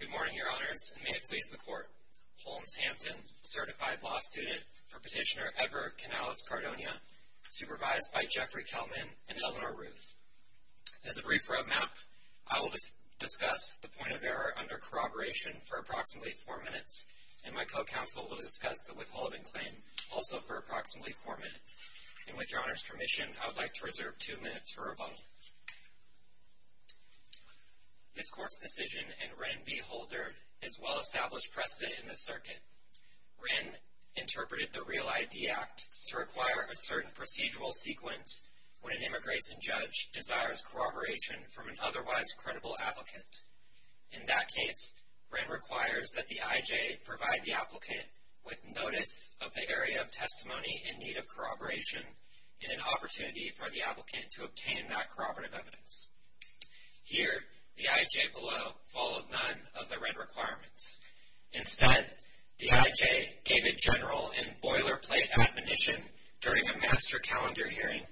Good morning, Your Honors, and may it please the Court. Holmes Hampton, Certified Law Student for Petitioner Edward Canales-Cardona, supervised by Jeffrey Kelman and Eleanor Ruth. As a brief roadmap, I will discuss the point of error under corroboration for approximately four minutes, and my co-counsel will discuss the withholding claim also for approximately four minutes. With this Court's permission, I would like to reserve two minutes for rebuttal. This Court's decision in Wren v. Holder is well-established precedent in the circuit. Wren interpreted the Real ID Act to require a certain procedural sequence when an immigration judge desires corroboration from an otherwise credible applicant. In that case, Wren requires that the I.J. provide the applicant with notice of the area of testimony in need of corroboration and an opportunity for the applicant to obtain that corroborative evidence. Here, the I.J. below followed none of the Wren requirements. Instead, the I.J. gave a general and boilerplate admonition during a master calendar hearing,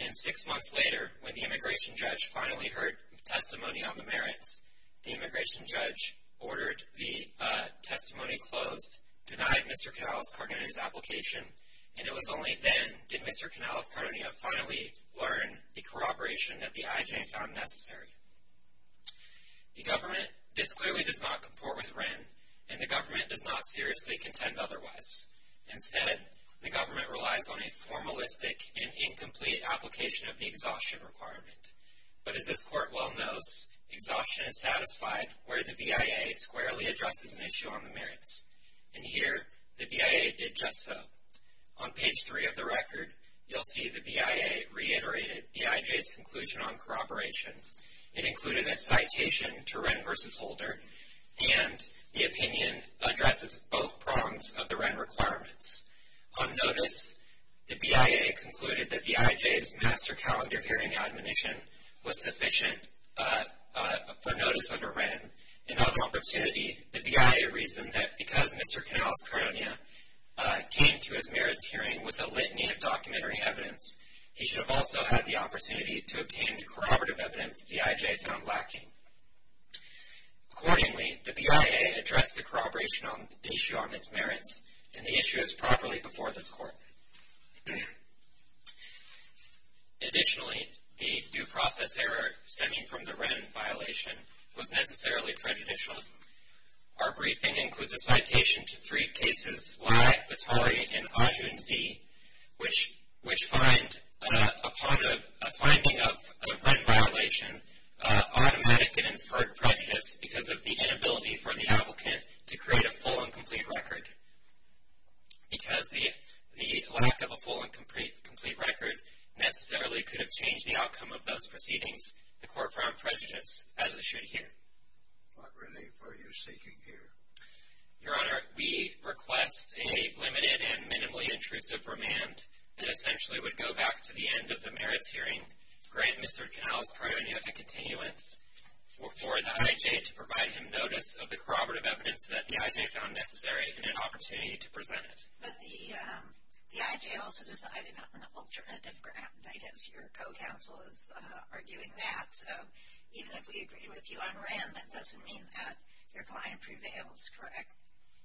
and six months later, when the immigration judge finally heard testimony on the merits, the immigration judge ordered the testimony closed, denied Mr. Canales-Cardona's application, and it was only then did Mr. Canales-Cardona finally learn the corroboration that the I.J. found necessary. The government—this clearly does not comport with Wren, and the government does not seriously contend otherwise. Instead, the government relies on a formalistic and incomplete application of the exhaustion requirement. But as this Court well knows, exhaustion is satisfied where the BIA squarely addresses an issue on the merits. And here, the BIA did just so. On page 3 of the record, you'll see the BIA reiterated the I.J.'s conclusion on corroboration. It included a citation to Wren v. Holder, and the opinion addresses both prongs of the Wren requirements. On notice, the BIA concluded that the I.J.'s master calendar hearing admonition was sufficient for notice under Wren. In other opportunity, the BIA reasoned that because Mr. Canales-Cardona came to his merits hearing with a litany of documentary evidence, he should have also had the opportunity to obtain the corroborative evidence the I.J. found lacking. Accordingly, the BIA addressed the corroboration issue on its merits, and the issue is properly before this Court. Additionally, the due process error stemming from the Wren violation was necessarily prejudicial. Our briefing includes a citation to three cases, Lye, Vitari, and Ajunzi, which find, upon a finding of a Wren violation, automatic and inferred prejudice because of the inability for the applicant to create a full and complete record. Because the lack of a full and complete record necessarily could have changed the outcome of those proceedings, the Court found prejudice, as it should here. What relief are you seeking here? Your Honor, we request a limited and minimally intrusive remand that essentially would go back to the end of the merits hearing, grant Mr. Canales-Cardona a continuance, for the I.J. to provide him notice of the corroborative evidence that the I.J. found necessary and an opportunity to present it. But the I.J. also decided on an alternative grant. I guess your co-counsel is arguing that. So even if we agree with you on Wren, that doesn't mean that your client prevails, correct?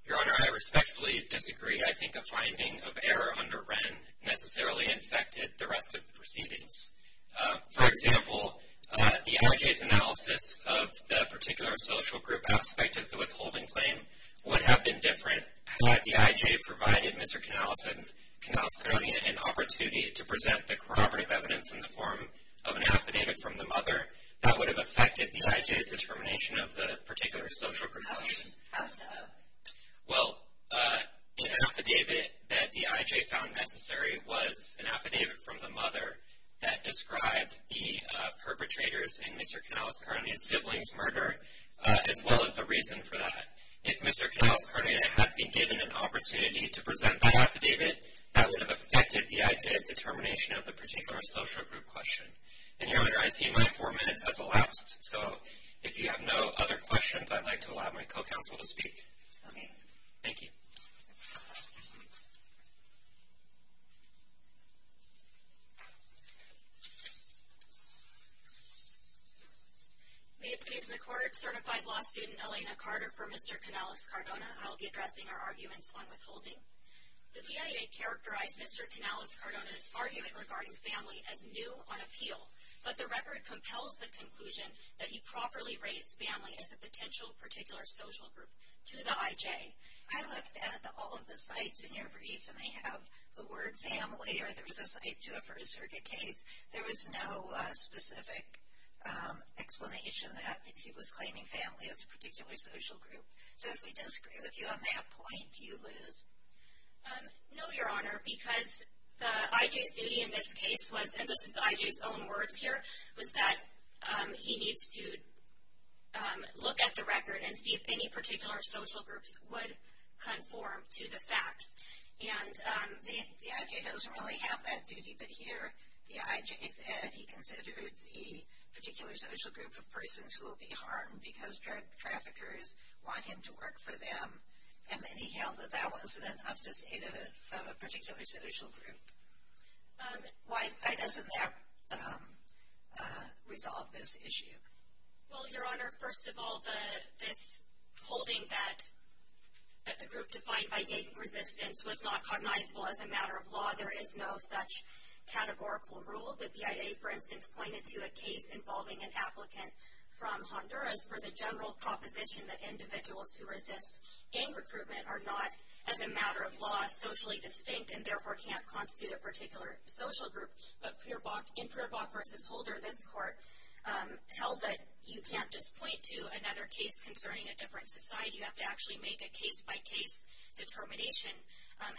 Your Honor, I respectfully disagree. I think a finding of error under Wren necessarily infected the rest of the proceedings. For example, the I.J.'s analysis of the particular social group aspect of the withholding claim would have been different had the I.J. provided Mr. Canales-Cardona an opportunity to present the corroborative evidence in the form of an affidavit from the mother. That would have affected the I.J.'s determination of the particular social group. How so? Well, an affidavit that the I.J. found necessary was an affidavit from the mother that described the perpetrators in Mr. Canales-Cardona's sibling's murder, as well as the reason for that. If Mr. Canales-Cardona had been given an opportunity to present that affidavit, that would have affected the I.J.'s determination of the particular social group question. And Your Honor, I see my four minutes has elapsed, so if you have no other questions, I'd like to allow my co-counsel to speak. Thank you. May it please the Court, Certified Law Student Elena Carter for Mr. Canales-Cardona. I will be addressing our arguments on withholding. The DIA characterized Mr. Canales-Cardona's argument regarding family as new on appeal, but the record compels the conclusion that he properly raised family as a potential particular social group to the I.J. I looked at all of the cites in your brief, and they have the word family, or there was a cite to a first circuit case. There was no specific explanation that he was claiming family as a particular social group. So if they disagree with you on that point, do you lose? No, Your Honor, because the I.J.'s duty in this case was, and this is the I.J.'s own words here, was that he needs to look at the record and see if any particular social groups would conform to the facts. The I.J. doesn't really have that duty, but here the I.J. said he considered the particular social group of persons who will be harmed because drug traffickers want him to work for them, and then he held that that wasn't enough to state a particular social group. Why doesn't that resolve this issue? Well, Your Honor, first of all, this holding that the group defined by gang resistance was not cognizable as a matter of law. There is no such categorical rule. The BIA, for instance, pointed to a case involving an applicant from Honduras for the general proposition that individuals who resist gang recruitment are not, as a matter of law, socially distinct and therefore can't constitute a particular social group. But in Pribok v. Holder, this court held that you can't just point to another case concerning a different society. You have to actually make a case-by-case determination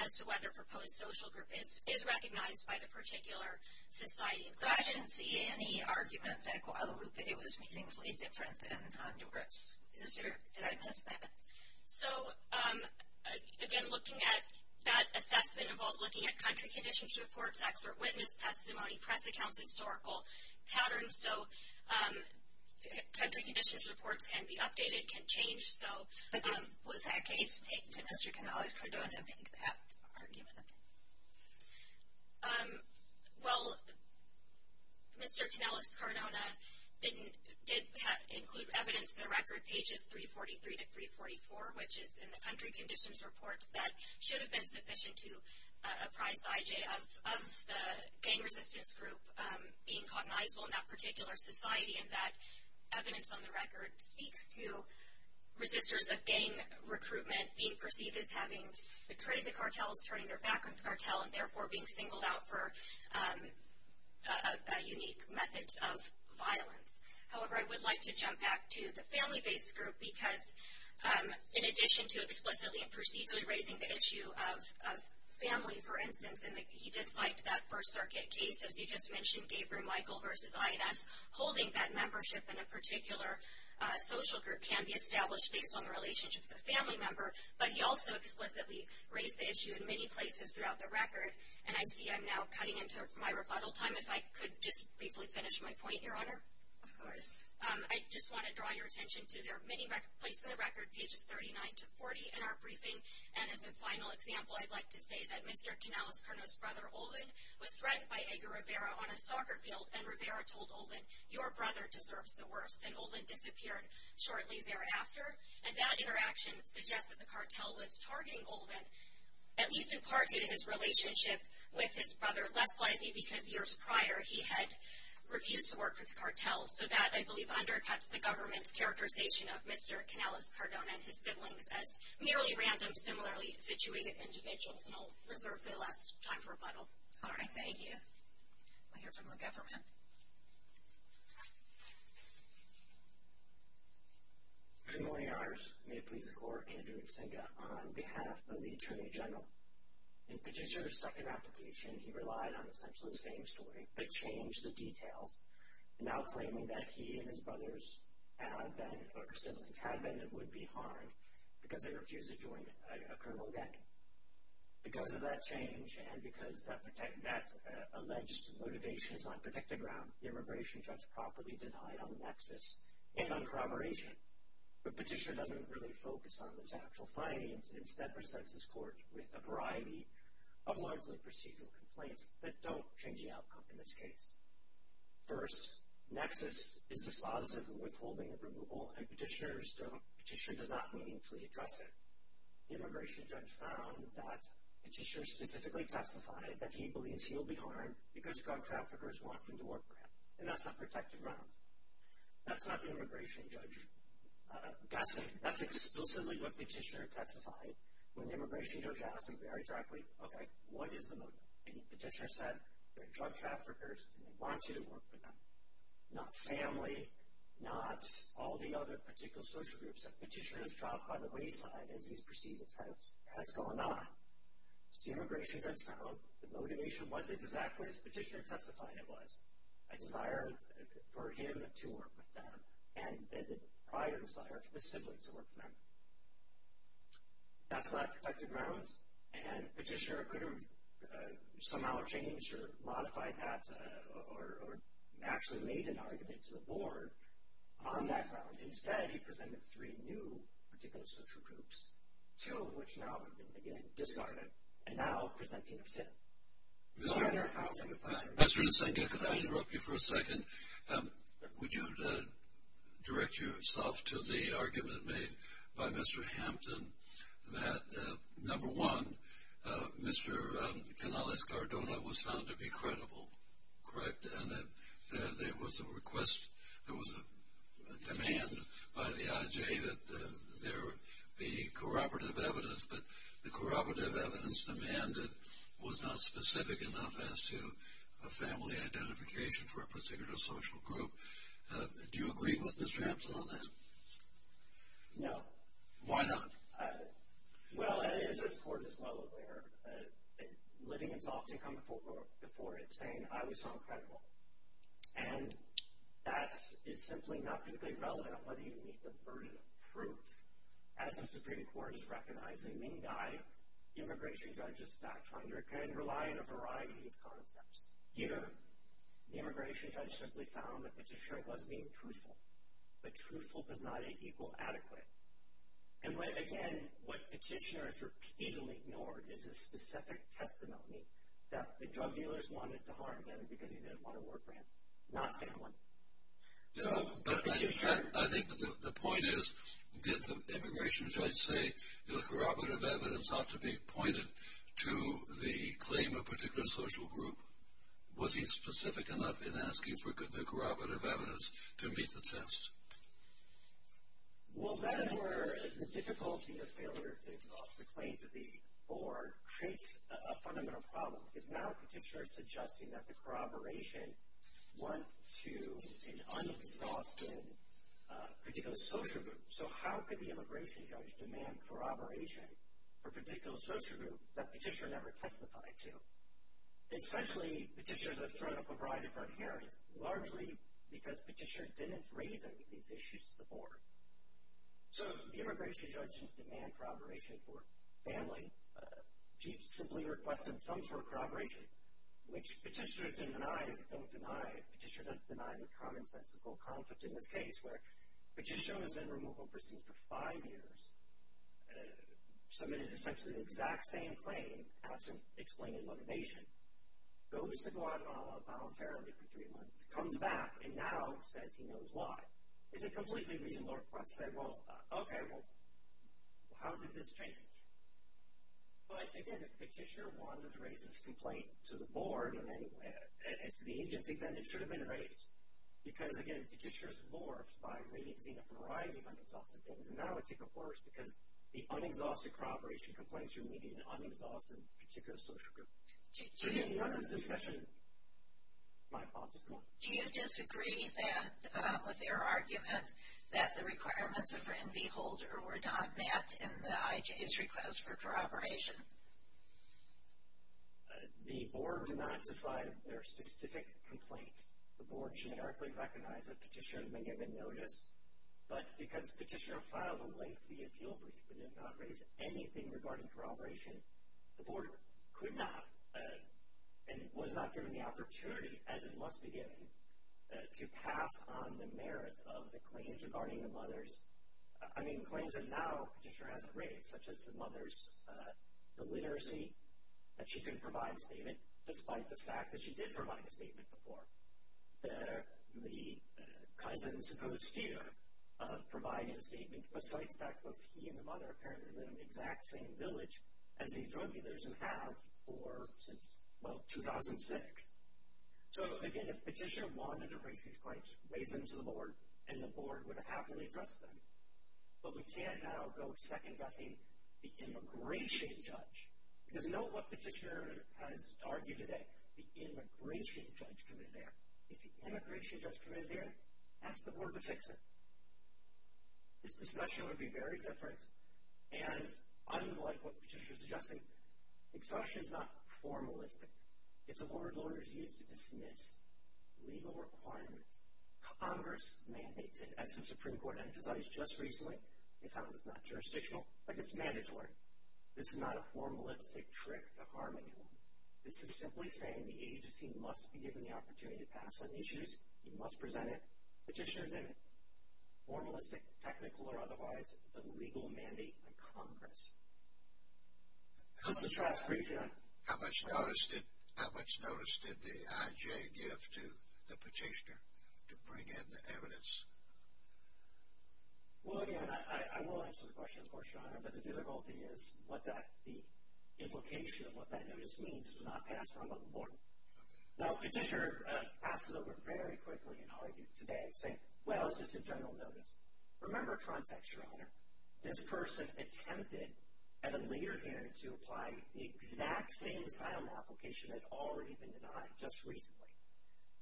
as to whether a proposed social group is recognized by the particular society. But I didn't see any argument that Guadalupe was meaningfully different than Honduras. Did I miss that? So, again, looking at that assessment involves looking at country conditions reports, expert witness testimony, press accounts, historical patterns. So, country conditions reports can be updated, can change. But then, was that case made to Mr. Canales-Cardona make that argument? Well, Mr. Canales-Cardona did include evidence in the record, pages 343 to 344, which is in the country conditions reports that should have been sufficient to apprise the IJ of the gang resistance group being cognizable in that particular society. And that evidence on the record speaks to resistors of gang recruitment being perceived as having betrayed the cartels, turning their back on the cartel, and therefore being singled out for unique methods of violence. However, I would like to jump back to the family-based group, because in addition to explicitly and procedurally raising the issue of family, for instance, and he did fight that First Circuit case, as you just mentioned, Gabriel Michael versus INS, holding that membership in a particular social group can be established based on the relationship with a family member. But he also explicitly raised the issue in many places throughout the record. And I see I'm now cutting into my rebuttal time, if I could just briefly finish my point, Your Honor. Of course. I just want to draw your attention to there are many places in the record, pages 39 to 40 in our briefing. And as a final example, I'd like to say that Mr. Canales-Cardona's brother, Olven, was threatened by Edgar Rivera on a soccer field, and Rivera told Olven, your brother deserves the worst. And Olven disappeared shortly thereafter. And that interaction suggests that the cartel was targeting Olven, at least in part due to his relationship with his brother, Les Lisey, because years prior, he had refused to work for the cartel. So that, I believe, undercuts the government's characterization of Mr. Canales-Cardona and his siblings as merely random, similarly situated individuals. And I'll reserve the last time for rebuttal. All right. Thank you. We'll hear from the government. Good morning, Your Honors. May it please the Court, Andrew Nzinga, on behalf of the Attorney General. In Puget Source's second application, he relied on essentially the same story, but changed the details, now claiming that he and his brothers had been, or siblings had been and would be harmed because they refused to join a criminal gang. Because of that change, and because that alleged motivation is not protected ground, the immigration judge properly denied on nexus and on corroboration. The petitioner doesn't really focus on those actual findings, and instead presents this court with a variety of largely procedural complaints that don't change the outcome in this case. First, nexus is dispositive of withholding of removal, and petitioner does not meaningfully address it. The immigration judge found that petitioner specifically testified that he believes he will be harmed because drug traffickers want him to work for him. And that's not protected ground. That's not the immigration judge guessing. That's exclusively what petitioner testified. When the immigration judge asked him very directly, okay, what is the motive? And the petitioner said, they're drug traffickers, and they want you to work for them. Not family, not all the other particular social groups. So petitioner is dropped by the wayside as he's perceived it has gone on. The immigration judge found the motivation wasn't exactly as petitioner testified it was. A desire for him to work for them, and a prior desire for his siblings to work for them. That's not protected ground, and petitioner could have somehow changed or modified that or actually made an argument to the board on that ground. And instead he presented three new particular social groups, two of which now have been again discarded, and now presenting a fifth. Mr. Nisenka, could I interrupt you for a second? Would you direct yourself to the argument made by Mr. Hampton that, number one, Mr. Canales-Cardona was found to be credible, correct? And that there was a request, there was a demand by the IJ that there be corroborative evidence, but the corroborative evidence demanded was not specific enough as to a family identification for a particular social group. Do you agree with Mr. Hampton on that? No. Why not? Well, as this court is well aware, living in soft income before it's saying, I was found credible. And that is simply not physically relevant on whether you meet the burden of proof. As the Supreme Court is recognizing, mean guy, immigration judges, fact finder, can rely on a variety of concepts. Either the immigration judge simply found the petitioner was being truthful, but truthful does not equal adequate. And when, again, what petitioner has repeatedly ignored is a specific testimony that the drug dealers wanted to harm him because he didn't want to work for him, not family. But I think the point is, did the immigration judge say the corroborative evidence ought to be pointed to the claim of a particular social group? Was he specific enough in asking for the corroborative evidence to meet the test? Well, that is where the difficulty of failure to exhaust the claims of the board creates a fundamental problem. Because now a petitioner is suggesting that the corroboration went to an un-exhausted particular social group. So how could the immigration judge demand corroboration for a particular social group that the petitioner never testified to? Essentially, petitioners have thrown up a variety of front hearings, largely because petitioners didn't raise any of these issues to the board. So the immigration judge didn't demand corroboration for family. She simply requested some sort of corroboration, which petitioners don't deny. Petitioners don't deny the commonsensical concept in this case, where the petitioner was in removal proceedings for five years, submitted essentially the exact same claim, absent explained motivation, goes to Guadalajara voluntarily for three months, comes back, and now says he knows why. It's a completely reasonable request to say, well, okay, well, how did this change? But, again, if the petitioner wanted to raise this complaint to the board and to the agency, then it should have been raised. Because, again, petitioners morphed by raising a variety of un-exhausted things. And now it's even worse because the un-exhausted corroboration complaints are made in an un-exhausted particular social group. Do you agree on this discussion? My apologies, go on. Do you disagree with their argument that the requirements of friend-beholder were not met in the IJ's request for corroboration? The board did not decide their specific complaints. The board generically recognized that petitioners may have been noticed. But because the petitioner filed a lengthy appeal brief and did not raise anything regarding corroboration, the board could not and was not given the opportunity, as it must be given, to pass on the merits of the claims regarding the mother's. I mean, claims that now a petitioner hasn't raised, such as the mother's illiteracy, that she couldn't provide a statement, despite the fact that she did provide a statement before. The cousins who are here provided a statement, besides that both he and the mother apparently live in the exact same village as these drug dealers have since, well, 2006. So, again, if a petitioner wanted to raise these claims, raise them to the board, and the board would have happily addressed them. But we can't now go second-guessing the immigration judge. Because note what petitioner has argued today. The immigration judge can be there. If the immigration judge can be there, ask the board to fix it. This discussion would be very different, and unlike what the petitioner is suggesting, exhaustion is not formalistic. It's a word lawyers use to dismiss legal requirements. Congress mandates it, as the Supreme Court emphasized just recently. They found it's not jurisdictional, but it's mandatory. This is not a formalistic trick to harm anyone. This is simply saying the agency must be given the opportunity to pass on issues. It must present it. Petitioner didn't. Formalistic, technical, or otherwise, is a legal mandate of Congress. This is Travis Freesia. How much notice did the IJ give to the petitioner to bring in the evidence? But the difficulty is the implication of what that notice means was not passed on by the board. Now, petitioner passes over very quickly and argued today, saying, well, it's just a general notice. Remember context, Your Honor. This person attempted at a later hearing to apply the exact same asylum application that had already been denied just recently.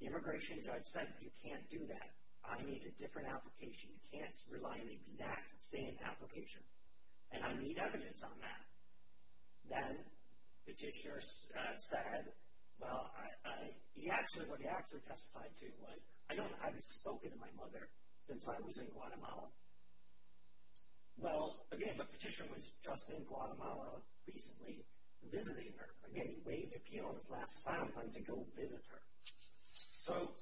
The immigration judge said, you can't do that. I need a different application. You can't rely on the exact same application. And I need evidence on that. Then petitioner said, well, what he actually testified to was, I haven't spoken to my mother since I was in Guatemala. Well, again, the petitioner was just in Guatemala recently visiting her. Again, he waved to Pion's last asylum claim to go visit her. So,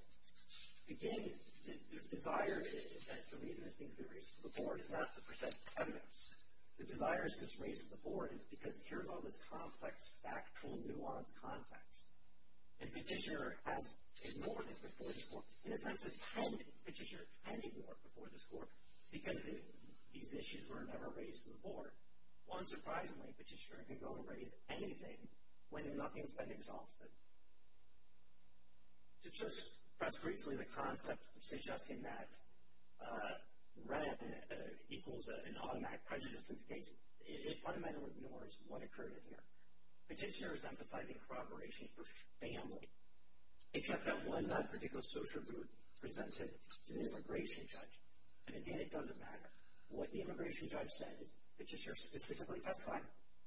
again, the desire is that the reason this needs to be raised to the board is not to present evidence. The desire is to raise it to the board is because here's all this complex, factual, nuanced context. And petitioner has ignored it before this court. In a sense, it's pending. Petitioner can ignore it before this court because if these issues were never raised to the board, unsurprisingly, petitioner can go and raise anything when nothing's been exalted. To just address briefly the concept of suggesting that red equals an automatic prejudice in this case, it fundamentally ignores what occurred in here. Petitioner is emphasizing corroboration for family, except that was not a particular social group presented to the immigration judge. And, again, it doesn't matter. What the immigration judge said is petitioner specifically testified,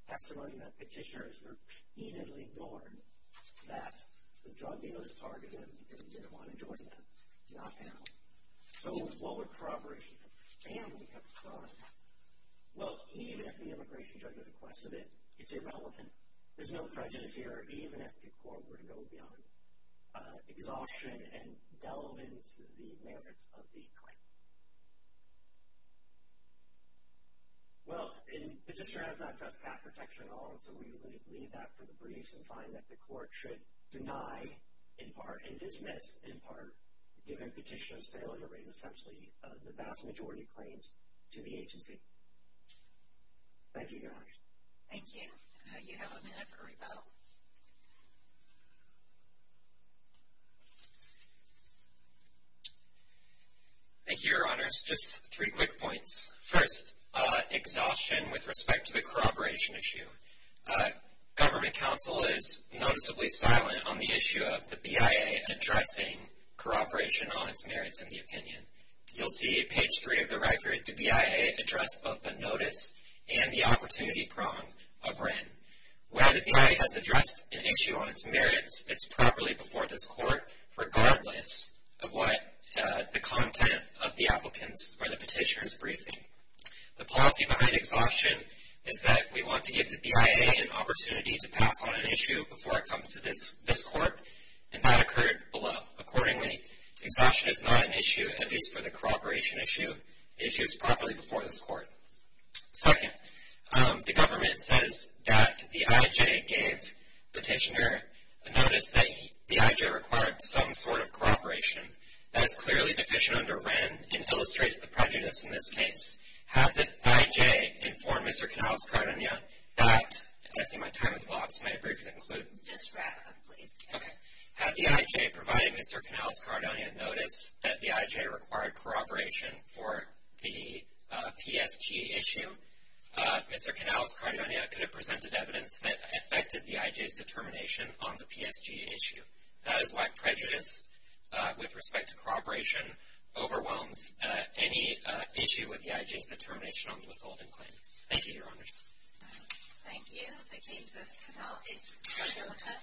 testimony that petitioner has repeatedly ignored, that the drug dealer targeted him because he didn't want to join them, not family. So, what would corroboration for family have to say on that? Well, even if the immigration judge requests it, it's irrelevant. There's no prejudice here, even if the court were to go beyond exhaustion and delimit the merits of the claim. Well, the petitioner has not addressed that protection at all, so we will leave that for the briefs and find that the court should deny, in part, and dismiss, in part, given petitioner's failure to raise essentially the vast majority of claims to the agency. Thank you very much. Thank you. You have a minute for rebuttal. Thank you, Your Honors. Just three quick points. First, exhaustion with respect to the corroboration issue. Government counsel is noticeably silent on the issue of the BIA addressing corroboration on its merits and the opinion. You'll see at page three of the record the BIA address both the notice and the opportunity prong of Wren. Where the BIA has addressed an issue on its merits, it's properly before this court, regardless of what the content of the applicant's or the petitioner's briefing. The policy behind exhaustion is that we want to give the BIA an opportunity to pass on an issue before it comes to this court, and that occurred below. Accordingly, exhaustion is not an issue, at least for the corroboration issue. The issue is properly before this court. Second, the government says that the IJ gave petitioner a notice that the IJ required some sort of corroboration. That is clearly deficient under Wren and illustrates the prejudice in this case. Had the IJ informed Mr. Canales-Cardona that, and I see my time is lost, may I briefly conclude? Just wrap up, please. Okay. Had the IJ provided Mr. Canales-Cardona notice that the IJ required corroboration for the PSG issue, Mr. Canales-Cardona could have presented evidence that affected the IJ's determination on the PSG issue. That is why prejudice with respect to corroboration overwhelms any issue with the IJ's determination on the withholding claim. Thank you, Your Honors. Thank you. The case of Canales-Cardona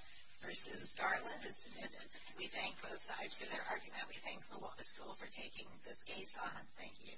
v. Garland is submitted. We thank both sides for their argument. We thank the Wallace School for taking this case on. Thank you.